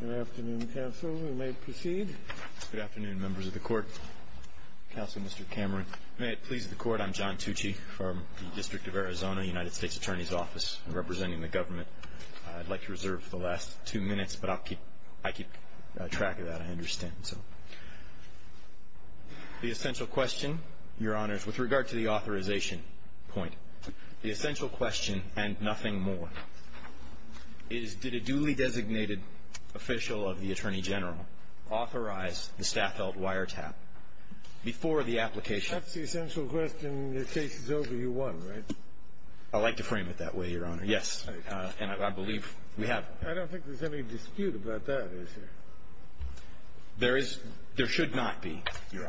Good afternoon, members of the Court. Counselor Mr. Cameron. May it please the Court, I'm John Tucci from the District of Arizona, United States Attorney's Office, representing the government. I'd like to reserve the last two minutes, but I'll keep, I keep track of that, I understand, so. The essential question, Your Honors, with regard to the authorization point, the essential question and nothing more, is did a duly designated official of the Attorney General authorize the Staffeldt wiretap before the application? That's the essential question. Your case is over. You won, right? I like to frame it that way, Your Honor. Yes. And I believe we have. I don't think there's any dispute about that, is there? There is. There should not be, Your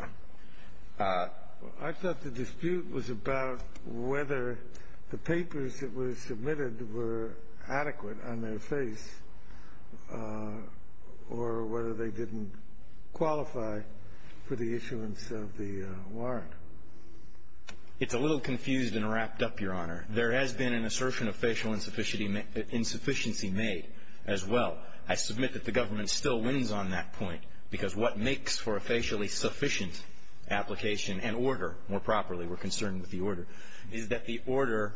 Honor. I thought the dispute was about whether the papers that were submitted were adequate on their face or whether they didn't qualify for the issuance of the warrant. It's a little confused and wrapped up, Your Honor. There has been an assertion of facial insufficiency made as well. I submit that the government still wins on that point, because what makes for a facially sufficient application and order, more properly, we're concerned with the order, is that the order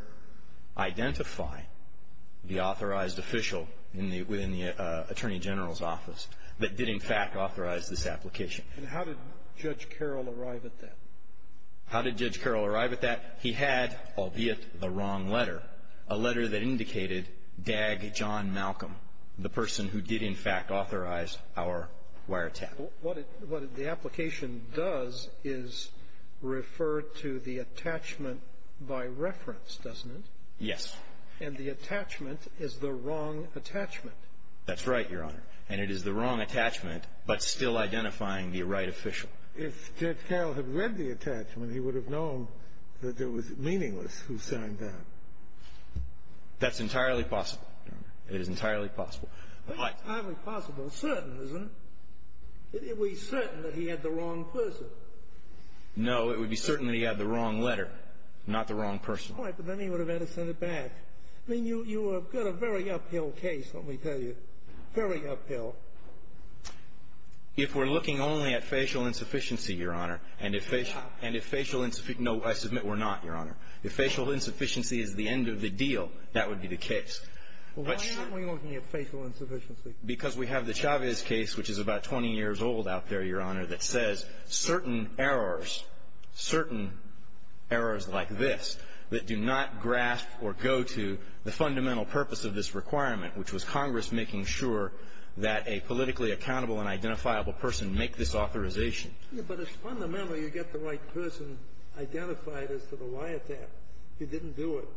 identify the authorized official in the, within the Attorney General's office that did, in fact, authorize this application. And how did Judge Carroll arrive at that? How did Judge Carroll arrive at that? He had, albeit the wrong letter, a letter that indicated Dag John Malcolm, the person who did, in fact, authorize our wiretap. What it, what the application does is refer to the attachment by reference, doesn't it? Yes. And the attachment is the wrong attachment. That's right, Your Honor. And it is the wrong attachment, but still identifying the right official. If Judge Carroll had read the attachment, he would have known that it was meaningless who signed that. That's entirely possible, Your Honor. It is entirely possible. That's entirely possible. It's certain, isn't it? It would be certain that he had the wrong person. No, it would be certain that he had the wrong letter, not the wrong person. All right, but then he would have had to send it back. I mean, you, you have got a very uphill case, let me tell you. Very uphill. If we're looking only at facial insufficiency, Your Honor, and if facial, and if facial insuffi, no, I submit we're not, Your Honor. If facial insufficiency is the end of the deal, that would be the case. Well, why aren't we looking at facial insufficiency? Because we have the Chavez case, which is about 20 years old out there, Your Honor, that says certain errors, certain errors like this that do not grasp or go to the fundamental purpose of this requirement, which was Congress making sure that a politically accountable and identifiable person make this authorization. Yeah, but it's fundamental you get the right person identified as to the lie attack. You didn't do it.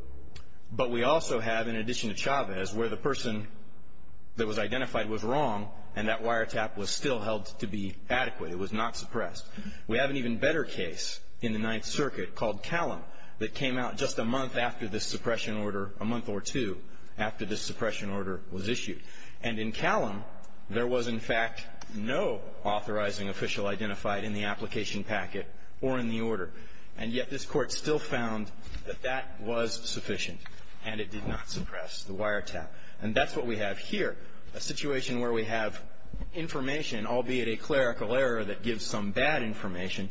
But we also have, in addition to Chavez, where the person that was identified was wrong, and that wiretap was still held to be adequate. It was not suppressed. We have an even better case in the Ninth Circuit called Callum that came out just a month after this suppression order, a month or two after this suppression order was issued. And in Callum, there was, in fact, no authorizing official identified in the application packet or in the order. And yet this Court still found that that was sufficient, and it did not suppress the wiretap. And that's what we have here, a situation where we have information, albeit a clerical error that gives some bad information,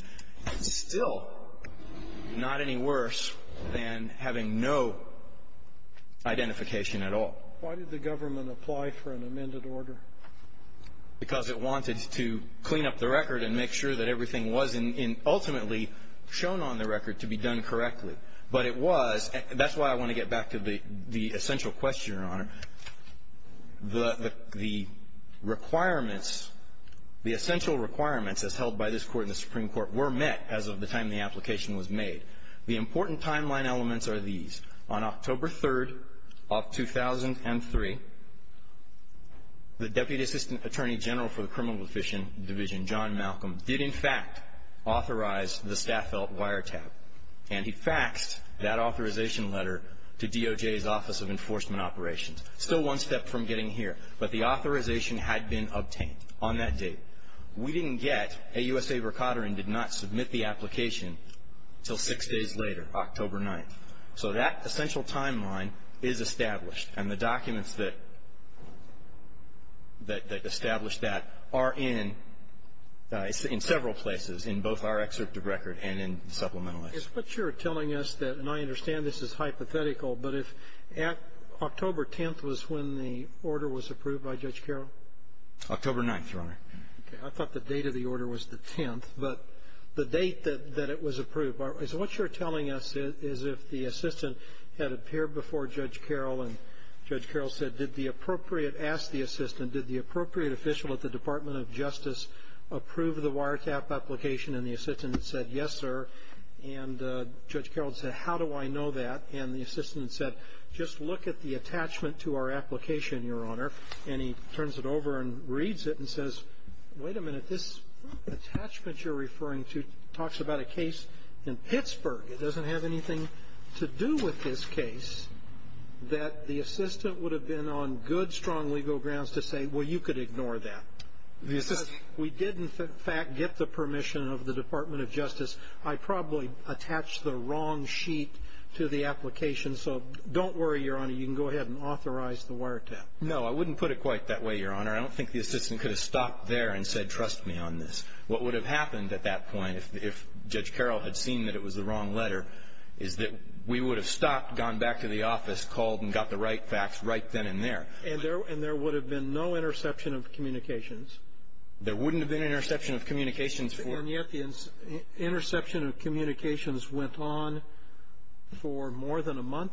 still not any worse than having no identification at all. Why did the government apply for an amended order? Because it wanted to clean up the record and make sure that everything was ultimately shown on the record to be done correctly. But it was, and that's why I want to get back to the essential question, Your Honor. The requirements, the essential requirements as held by this Court and the Supreme Court were met as of the time the application was made. The important timeline elements are these. On October 3rd of 2003, the Deputy Assistant Attorney General for the Criminal Division, John Malcolm, did, in fact, authorize the Staffel wiretap. And he faxed that authorization letter to DOJ's Office of Enforcement Operations. Still one step from getting here, but the authorization had been obtained on that date. We didn't get, AUSA Verkaterin did not submit the application until six days later, October 9th. So that essential timeline is established. And the documents that establish that are in several places, in both our excerpt of record and in Supplemental X. Is what you're telling us that, and I understand this is hypothetical, but if October 10th was when the order was approved by Judge Carroll? October 9th, Your Honor. Okay. I thought the date of the order was the 10th, but the date that it was approved. So what you're telling us is if the assistant had appeared before Judge Carroll and Judge Carroll said, did the appropriate, asked the assistant, did the appropriate official at the Department of Justice approve the wiretap application? And the assistant said, yes, sir. And Judge Carroll said, how do I know that? And the assistant said, just look at the attachment to our application, Your Honor. And he turns it over and reads it and says, wait a minute, this attachment you're referring to talks about a case in Pittsburgh, it doesn't have anything to do with this case, that the assistant would have been on good, strong legal grounds to say, well, you could ignore that. We did, in fact, get the permission of the Department of Justice. I probably attached the wrong sheet to the application. So don't worry, Your Honor, you can go ahead and authorize the wiretap. No, I wouldn't put it quite that way, Your Honor. I don't think the assistant could have stopped there and said, trust me on this. What would have happened at that point, if Judge Carroll had seen that it was the wrong letter, is that we would have stopped, gone back to the office, called and got the right facts right then and there. And there would have been no interception of communications? There wouldn't have been an interception of communications for — And yet the interception of communications went on for more than a month?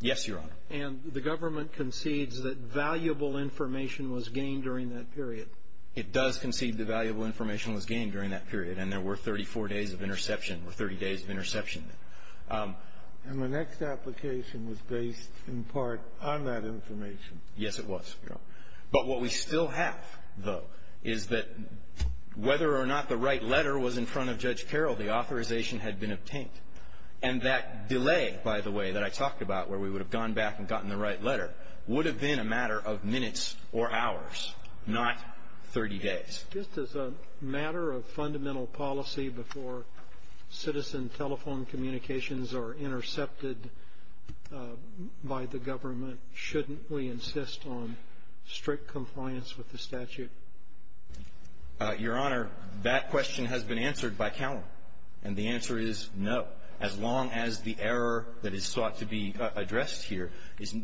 Yes, Your Honor. And the government concedes that valuable information was gained during that period? It does concede that valuable information was gained during that period. And there were 34 days of interception, or 30 days of interception. And the next application was based, in part, on that information? Yes, it was, Your Honor. But what we still have, though, is that whether or not the right letter was in front of Judge Carroll, the authorization had been obtained. And that delay, by the way, that I talked about, where we would have gone back and gotten the right letter, would have been a matter of minutes or hours, not 30 days. Just as a matter of fundamental policy before citizen telephone communications are intercepted by the government, shouldn't we insist on strict compliance with the statute? Your Honor, that question has been answered by Calum. And the answer is no, as long as the error that is sought to be addressed here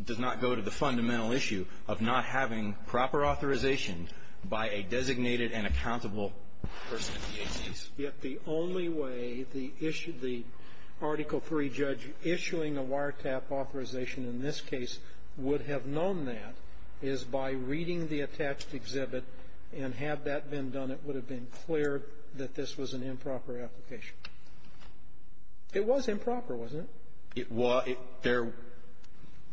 does not go to the fundamental issue of not having proper authorization by a designated and accountable person in the agency. Yet the only way the issue the Article III judge issuing a wiretap authorization in this case would have known that is by reading the attached exhibit. And had that been done, it would have been clear that this was an improper application. It was improper, wasn't it? It was. There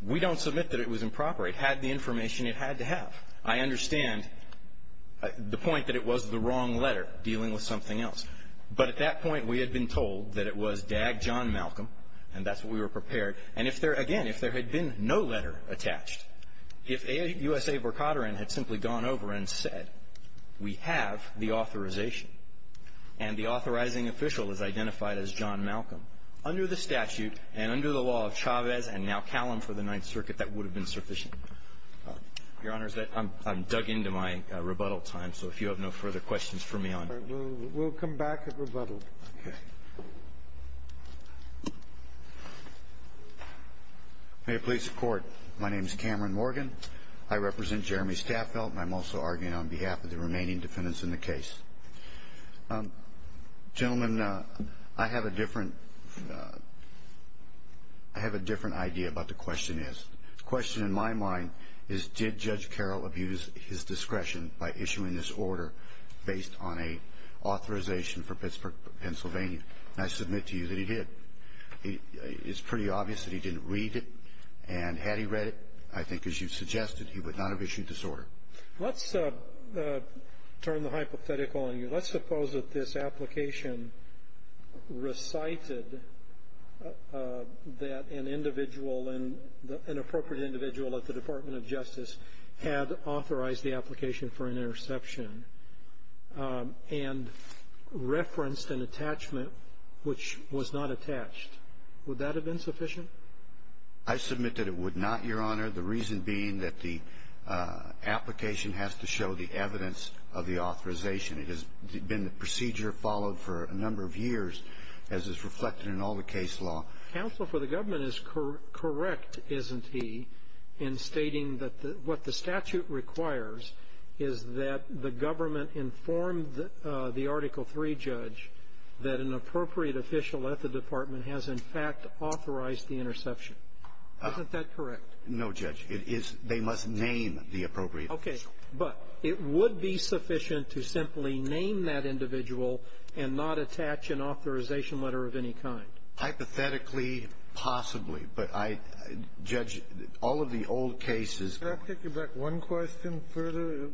we don't submit that it was improper. It had the information it had to have. I understand the point that it was the wrong letter dealing with something else. But at that point, we had been told that it was DAG John Malcolm, and that's what we were prepared. And if there, again, if there had been no letter attached, if USA Verkateran had simply gone over and said, we have the authorization. And the authorizing official is identified as John Malcolm. Under the statute and under the law of Chavez and now Calum for the Ninth Circuit, that would have been sufficient. Your Honor, I'm dug into my rebuttal time. So if you have no further questions for me on. We'll come back at rebuttal. Okay. May it please the Court. My name is Cameron Morgan. I represent Jeremy Staffeld, and I'm also arguing on behalf of the remaining defendants in the case. Gentlemen, I have a different, I have a different idea about the question is. The question in my mind is, did Judge Carroll abuse his discretion by issuing this order based on a authorization for Pittsburgh, Pennsylvania? And I submit to you that he did. It's pretty obvious that he didn't read it. And had he read it, I think as you've suggested, he would not have issued this order. Let's turn the hypothetical on you. Let's suppose that this application recited that an individual, an appropriate individual at the Department of Justice had authorized the application for an interception and referenced an attachment which was not attached. Would that have been sufficient? I submit that it would not, Your Honor. The reason being that the application has to show the evidence of the authorization. It has been the procedure followed for a number of years, as is reflected in all the case law. Counsel for the government is correct, isn't he, in stating that what the statute requires is that the government inform the Article III judge that an appropriate official at the department has, in fact, authorized the interception. Isn't that correct? No, Judge. It is. They must name the appropriate official. Okay. But it would be sufficient to simply name that individual and not attach an authorization letter of any kind. Hypothetically, possibly. But I — Judge, all of the old cases — Can I take you back one question further?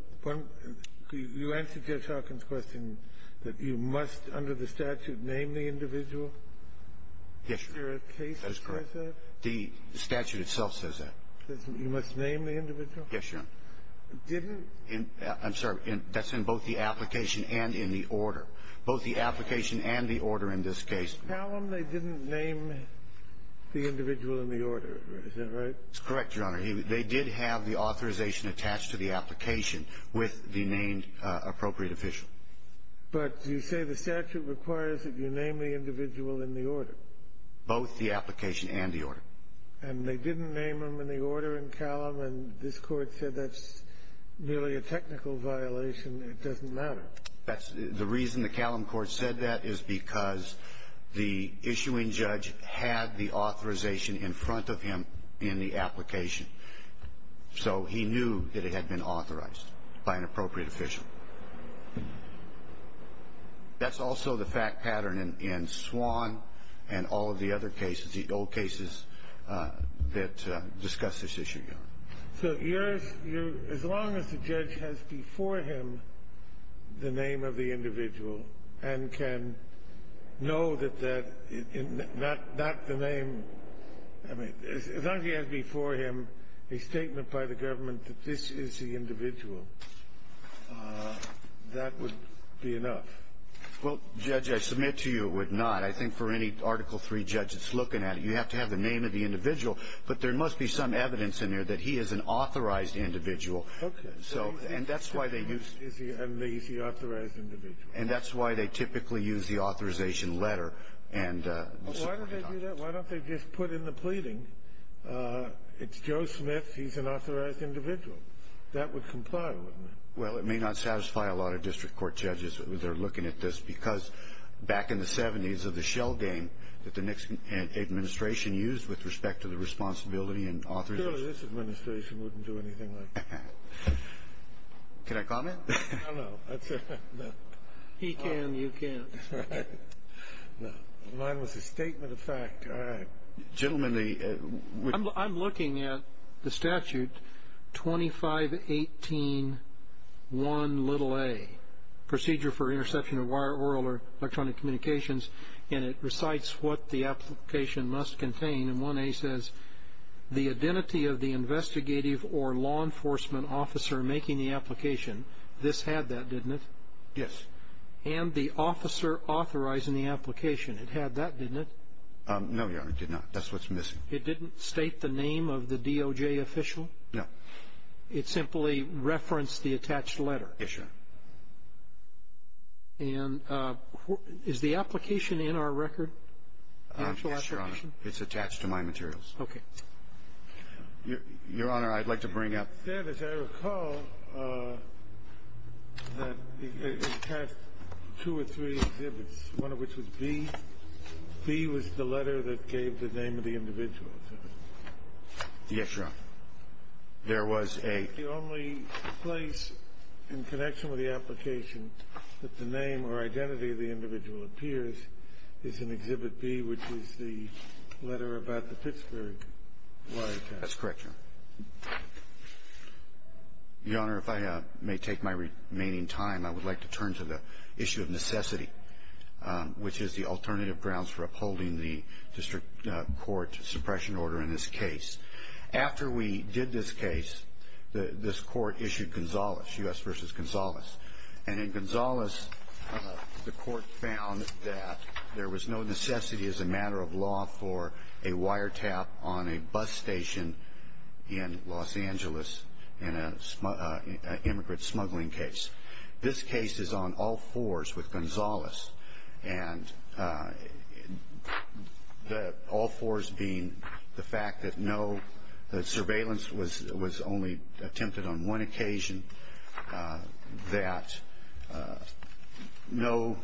You answered Judge Hawkins' question that you must, under the statute, name the individual. Yes, Your Honor. Is there a case that says that? The statute itself says that. It says you must name the individual? Yes, Your Honor. Didn't — I'm sorry. That's in both the application and in the order. Both the application and the order in this case. Calum, they didn't name the individual in the order. Is that right? It's correct, Your Honor. They did have the authorization attached to the application with the named appropriate official. But you say the statute requires that you name the individual in the order. Both the application and the order. And they didn't name him in the order in Calum, and this Court said that's merely a technical violation. It doesn't matter. That's — the reason the Calum court said that is because the issuing judge had the authorization in front of him in the application. So he knew that it had been authorized by an appropriate official. That's also the fact pattern in — in Swan and all of the other cases, the old cases that discuss this issue, Your Honor. So you're — as long as the judge has before him the name of the individual and can know that that — not the name — I mean, as long as he has before him a statement by the government that this is the individual, that would be enough. Well, Judge, I submit to you it would not. I think for any Article III judge that's looking at it, you have to have the name of the individual. But there must be some evidence in there that he is an authorized individual. Okay. So — And that's why they use — Is he — is he an authorized individual? And that's why they typically use the authorization letter. And — Well, why don't they do that? Why don't they just put in the pleading, it's Joe Smith, he's an authorized individual? That would comply, wouldn't it? Well, it may not satisfy a lot of district court judges who are looking at this because back in the 70s of the shell game that the Nixon administration used with respect to the responsibility and authority — Surely this administration wouldn't do anything like that. Can I comment? I don't know. That's a — He can. You can't. Right. No. Mine was a statement of fact. All right. Gentlemen, the — I'm looking at the statute 2518-1a, Procedure for Interception of Wire, Oral, or Electronic Communications, and it recites what the application must contain, and 1a says, the identity of the investigative or law enforcement officer making the application, this had that, didn't it? Yes. And the officer authorizing the application, it had that, didn't it? No, Your Honor, it did not. That's what's missing. It didn't state the name of the DOJ official? No. It simply referenced the attached letter? Yes, Your Honor. And is the application in our record, the actual application? Yes, Your Honor. It's attached to my materials. Okay. Your Honor, I'd like to bring up — It said, as I recall, that it had two or three exhibits, one of which was B. B was the letter that gave the name of the individual. Yes, Your Honor. There was a — The only place in connection with the application that the name or identity of the individual appears is in Exhibit B, which is the letter about the Pittsburgh wiretap. That's correct, Your Honor. Your Honor, if I may take my remaining time, I would like to turn to the issue of necessity, which is the alternative grounds for upholding the district court suppression order in this case. After we did this case, this court issued Gonzales, U.S. v. Gonzales. And in Gonzales, the court found that there was no necessity as a matter of law for a wiretap on a bus station in Los Angeles in an immigrant smuggling case. This case is on all fours with Gonzales, and all fours being the fact that no — that surveillance was only attempted on one occasion, that no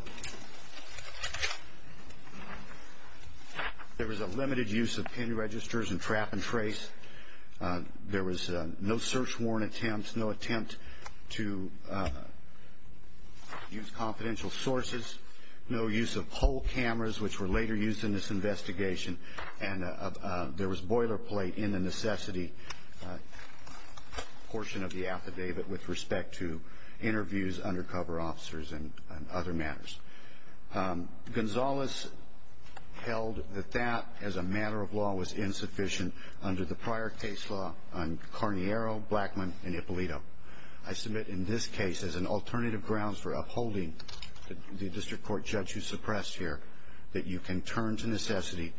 — there was a limited use of pin registers and trap and trace. There was no search warrant attempt, no attempt to use confidential sources, no use of pole cameras, which were later used in this investigation, and there was boilerplate in the necessity portion of the affidavit with respect to interviews, undercover officers, and other matters. Gonzales held that that, as a matter of law, was insufficient under the prior case law on Carniero, Blackmon, and Ippolito. I submit in this case, as an alternative grounds for upholding the district court judge who suppressed here, that you can turn to necessity,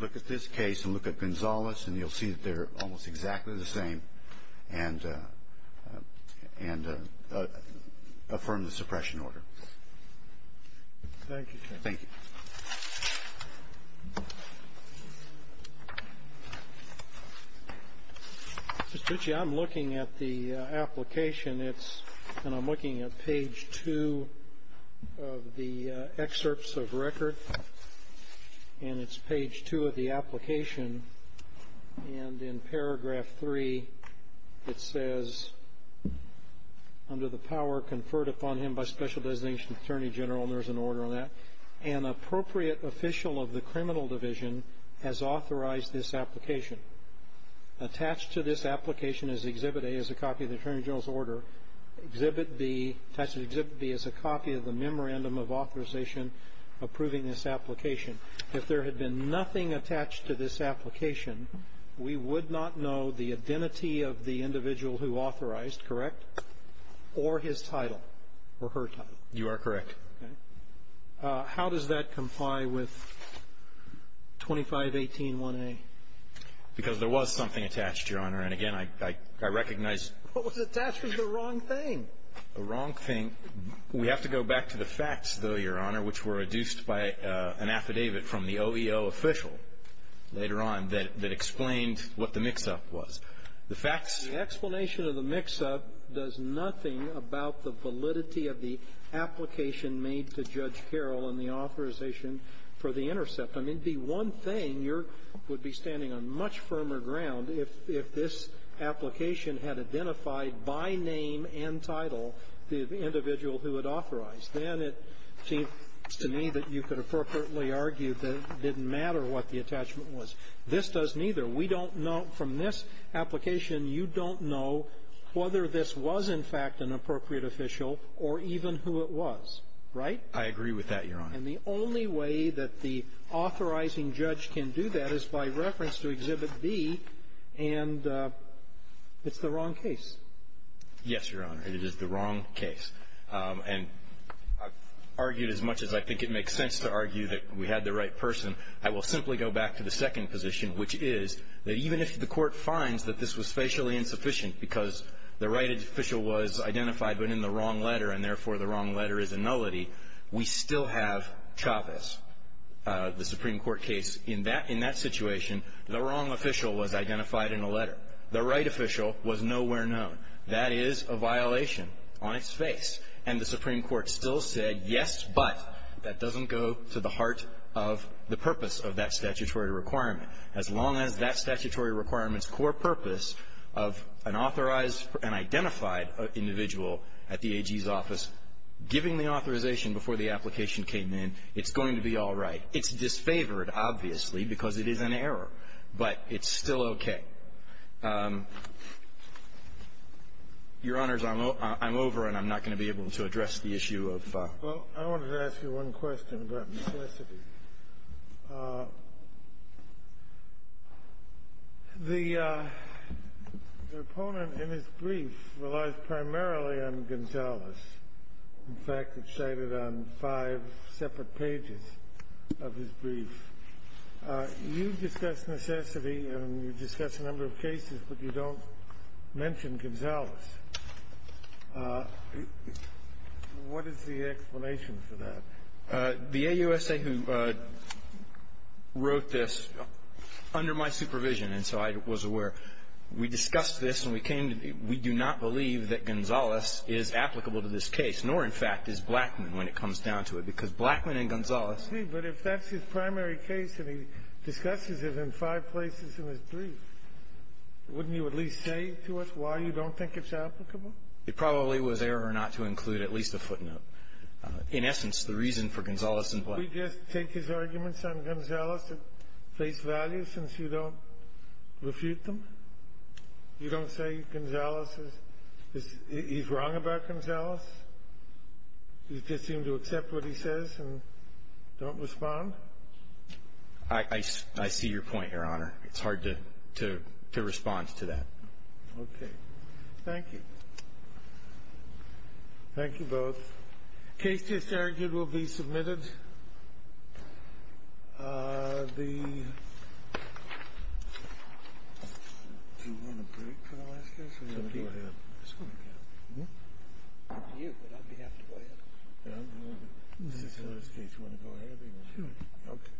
look at this case, and look at Gonzales, and you'll see that they're almost exactly the same, and affirm the suppression order. Thank you, sir. Thank you. Mr. Tucci, I'm looking at the application. It's — and I'm looking at page 2 of the excerpts of record, and it's page 2 of the application, and in paragraph 3, it says, under the power conferred upon him by special designation attorney general, and there's an order on that, an appropriate official of the criminal division has authorized this application. Attached to this application is Exhibit A, is a copy of the attorney general's order. Exhibit B, attached to Exhibit B, is a copy of the memorandum of authorization approving this application. If there had been nothing attached to this application, we would not know the identity of the individual who authorized, correct, or his title, or her title. You are correct. Okay. How does that comply with 2518-1A? Because there was something attached, Your Honor, and again, I recognize — What was attached was the wrong thing. The wrong thing — we have to go back to the facts, though, Your Honor, which were adduced by an affidavit from the OEO official later on that explained what the mix-up was. The facts — The explanation of the mix-up does nothing about the validity of the application made to Judge Carroll in the authorization for the intercept. I mean, the one thing, you're — would be standing on much firmer ground if — if this application had identified by name and title the individual who had authorized. Then it seems to me that you could appropriately argue that it didn't matter what the attachment was. This doesn't either. We don't know — from this application, you don't know whether this was, in fact, an appropriate official or even who it was, right? I agree with that, Your Honor. And the only way that the authorizing judge can do that is by reference to Exhibit B, and it's the wrong case. Yes, Your Honor. It is the wrong case. And I've argued as much as I think it makes sense to argue that we had the right person, I will simply go back to the second position, which is that even if the court finds that this was facially insufficient because the right official was identified but in the wrong letter and, therefore, the wrong letter is a nullity, we still have Chavez, the Supreme Court case. In that — in that situation, the wrong official was identified in a letter. The right official was nowhere known. That is a violation on its face. And the Supreme Court still said, yes, but, that doesn't go to the heart of the purpose of that statutory requirement. As long as that statutory requirement's core purpose of an authorized and identified individual at the AG's office giving the authorization before the application came in, it's going to be all right. It's disfavored, obviously, because it is an error, but it's still okay. Your Honors, I'm over, and I'm not going to be able to address the issue of — Well, I wanted to ask you one question about necessity. The — the opponent in his brief relies primarily on Gonzales. In fact, it's cited on five separate pages of his brief. You've discussed necessity, and you've discussed a number of cases, but you don't mention Gonzales. What is the explanation for that? The AUSA who wrote this, under my supervision, and so I was aware, we discussed this, and we came to the — we do not believe that Gonzales is applicable to this case, nor, in fact, is Blackman when it comes down to it, because Blackman and Gonzales — Maybe, but if that's his primary case, and he discusses it in five places in his brief, wouldn't you at least say to us why you don't think it's applicable? It probably was error not to include at least a footnote. In essence, the reason for Gonzales and Blackman — We just take his arguments on Gonzales at face value, since you don't refute them? You don't say Gonzales is — he's wrong about Gonzales? You just seem to accept what he says and don't respond? I see your point, Your Honor. It's hard to respond to that. Okay. Thank you. Thank you both. Case just argued will be submitted. The — Do you want a break for the last case, or do you want to go ahead? I just want to go ahead. You, but I may have to go ahead. Well, since it's the last case, you want to go ahead, or do you want to go ahead? Sure.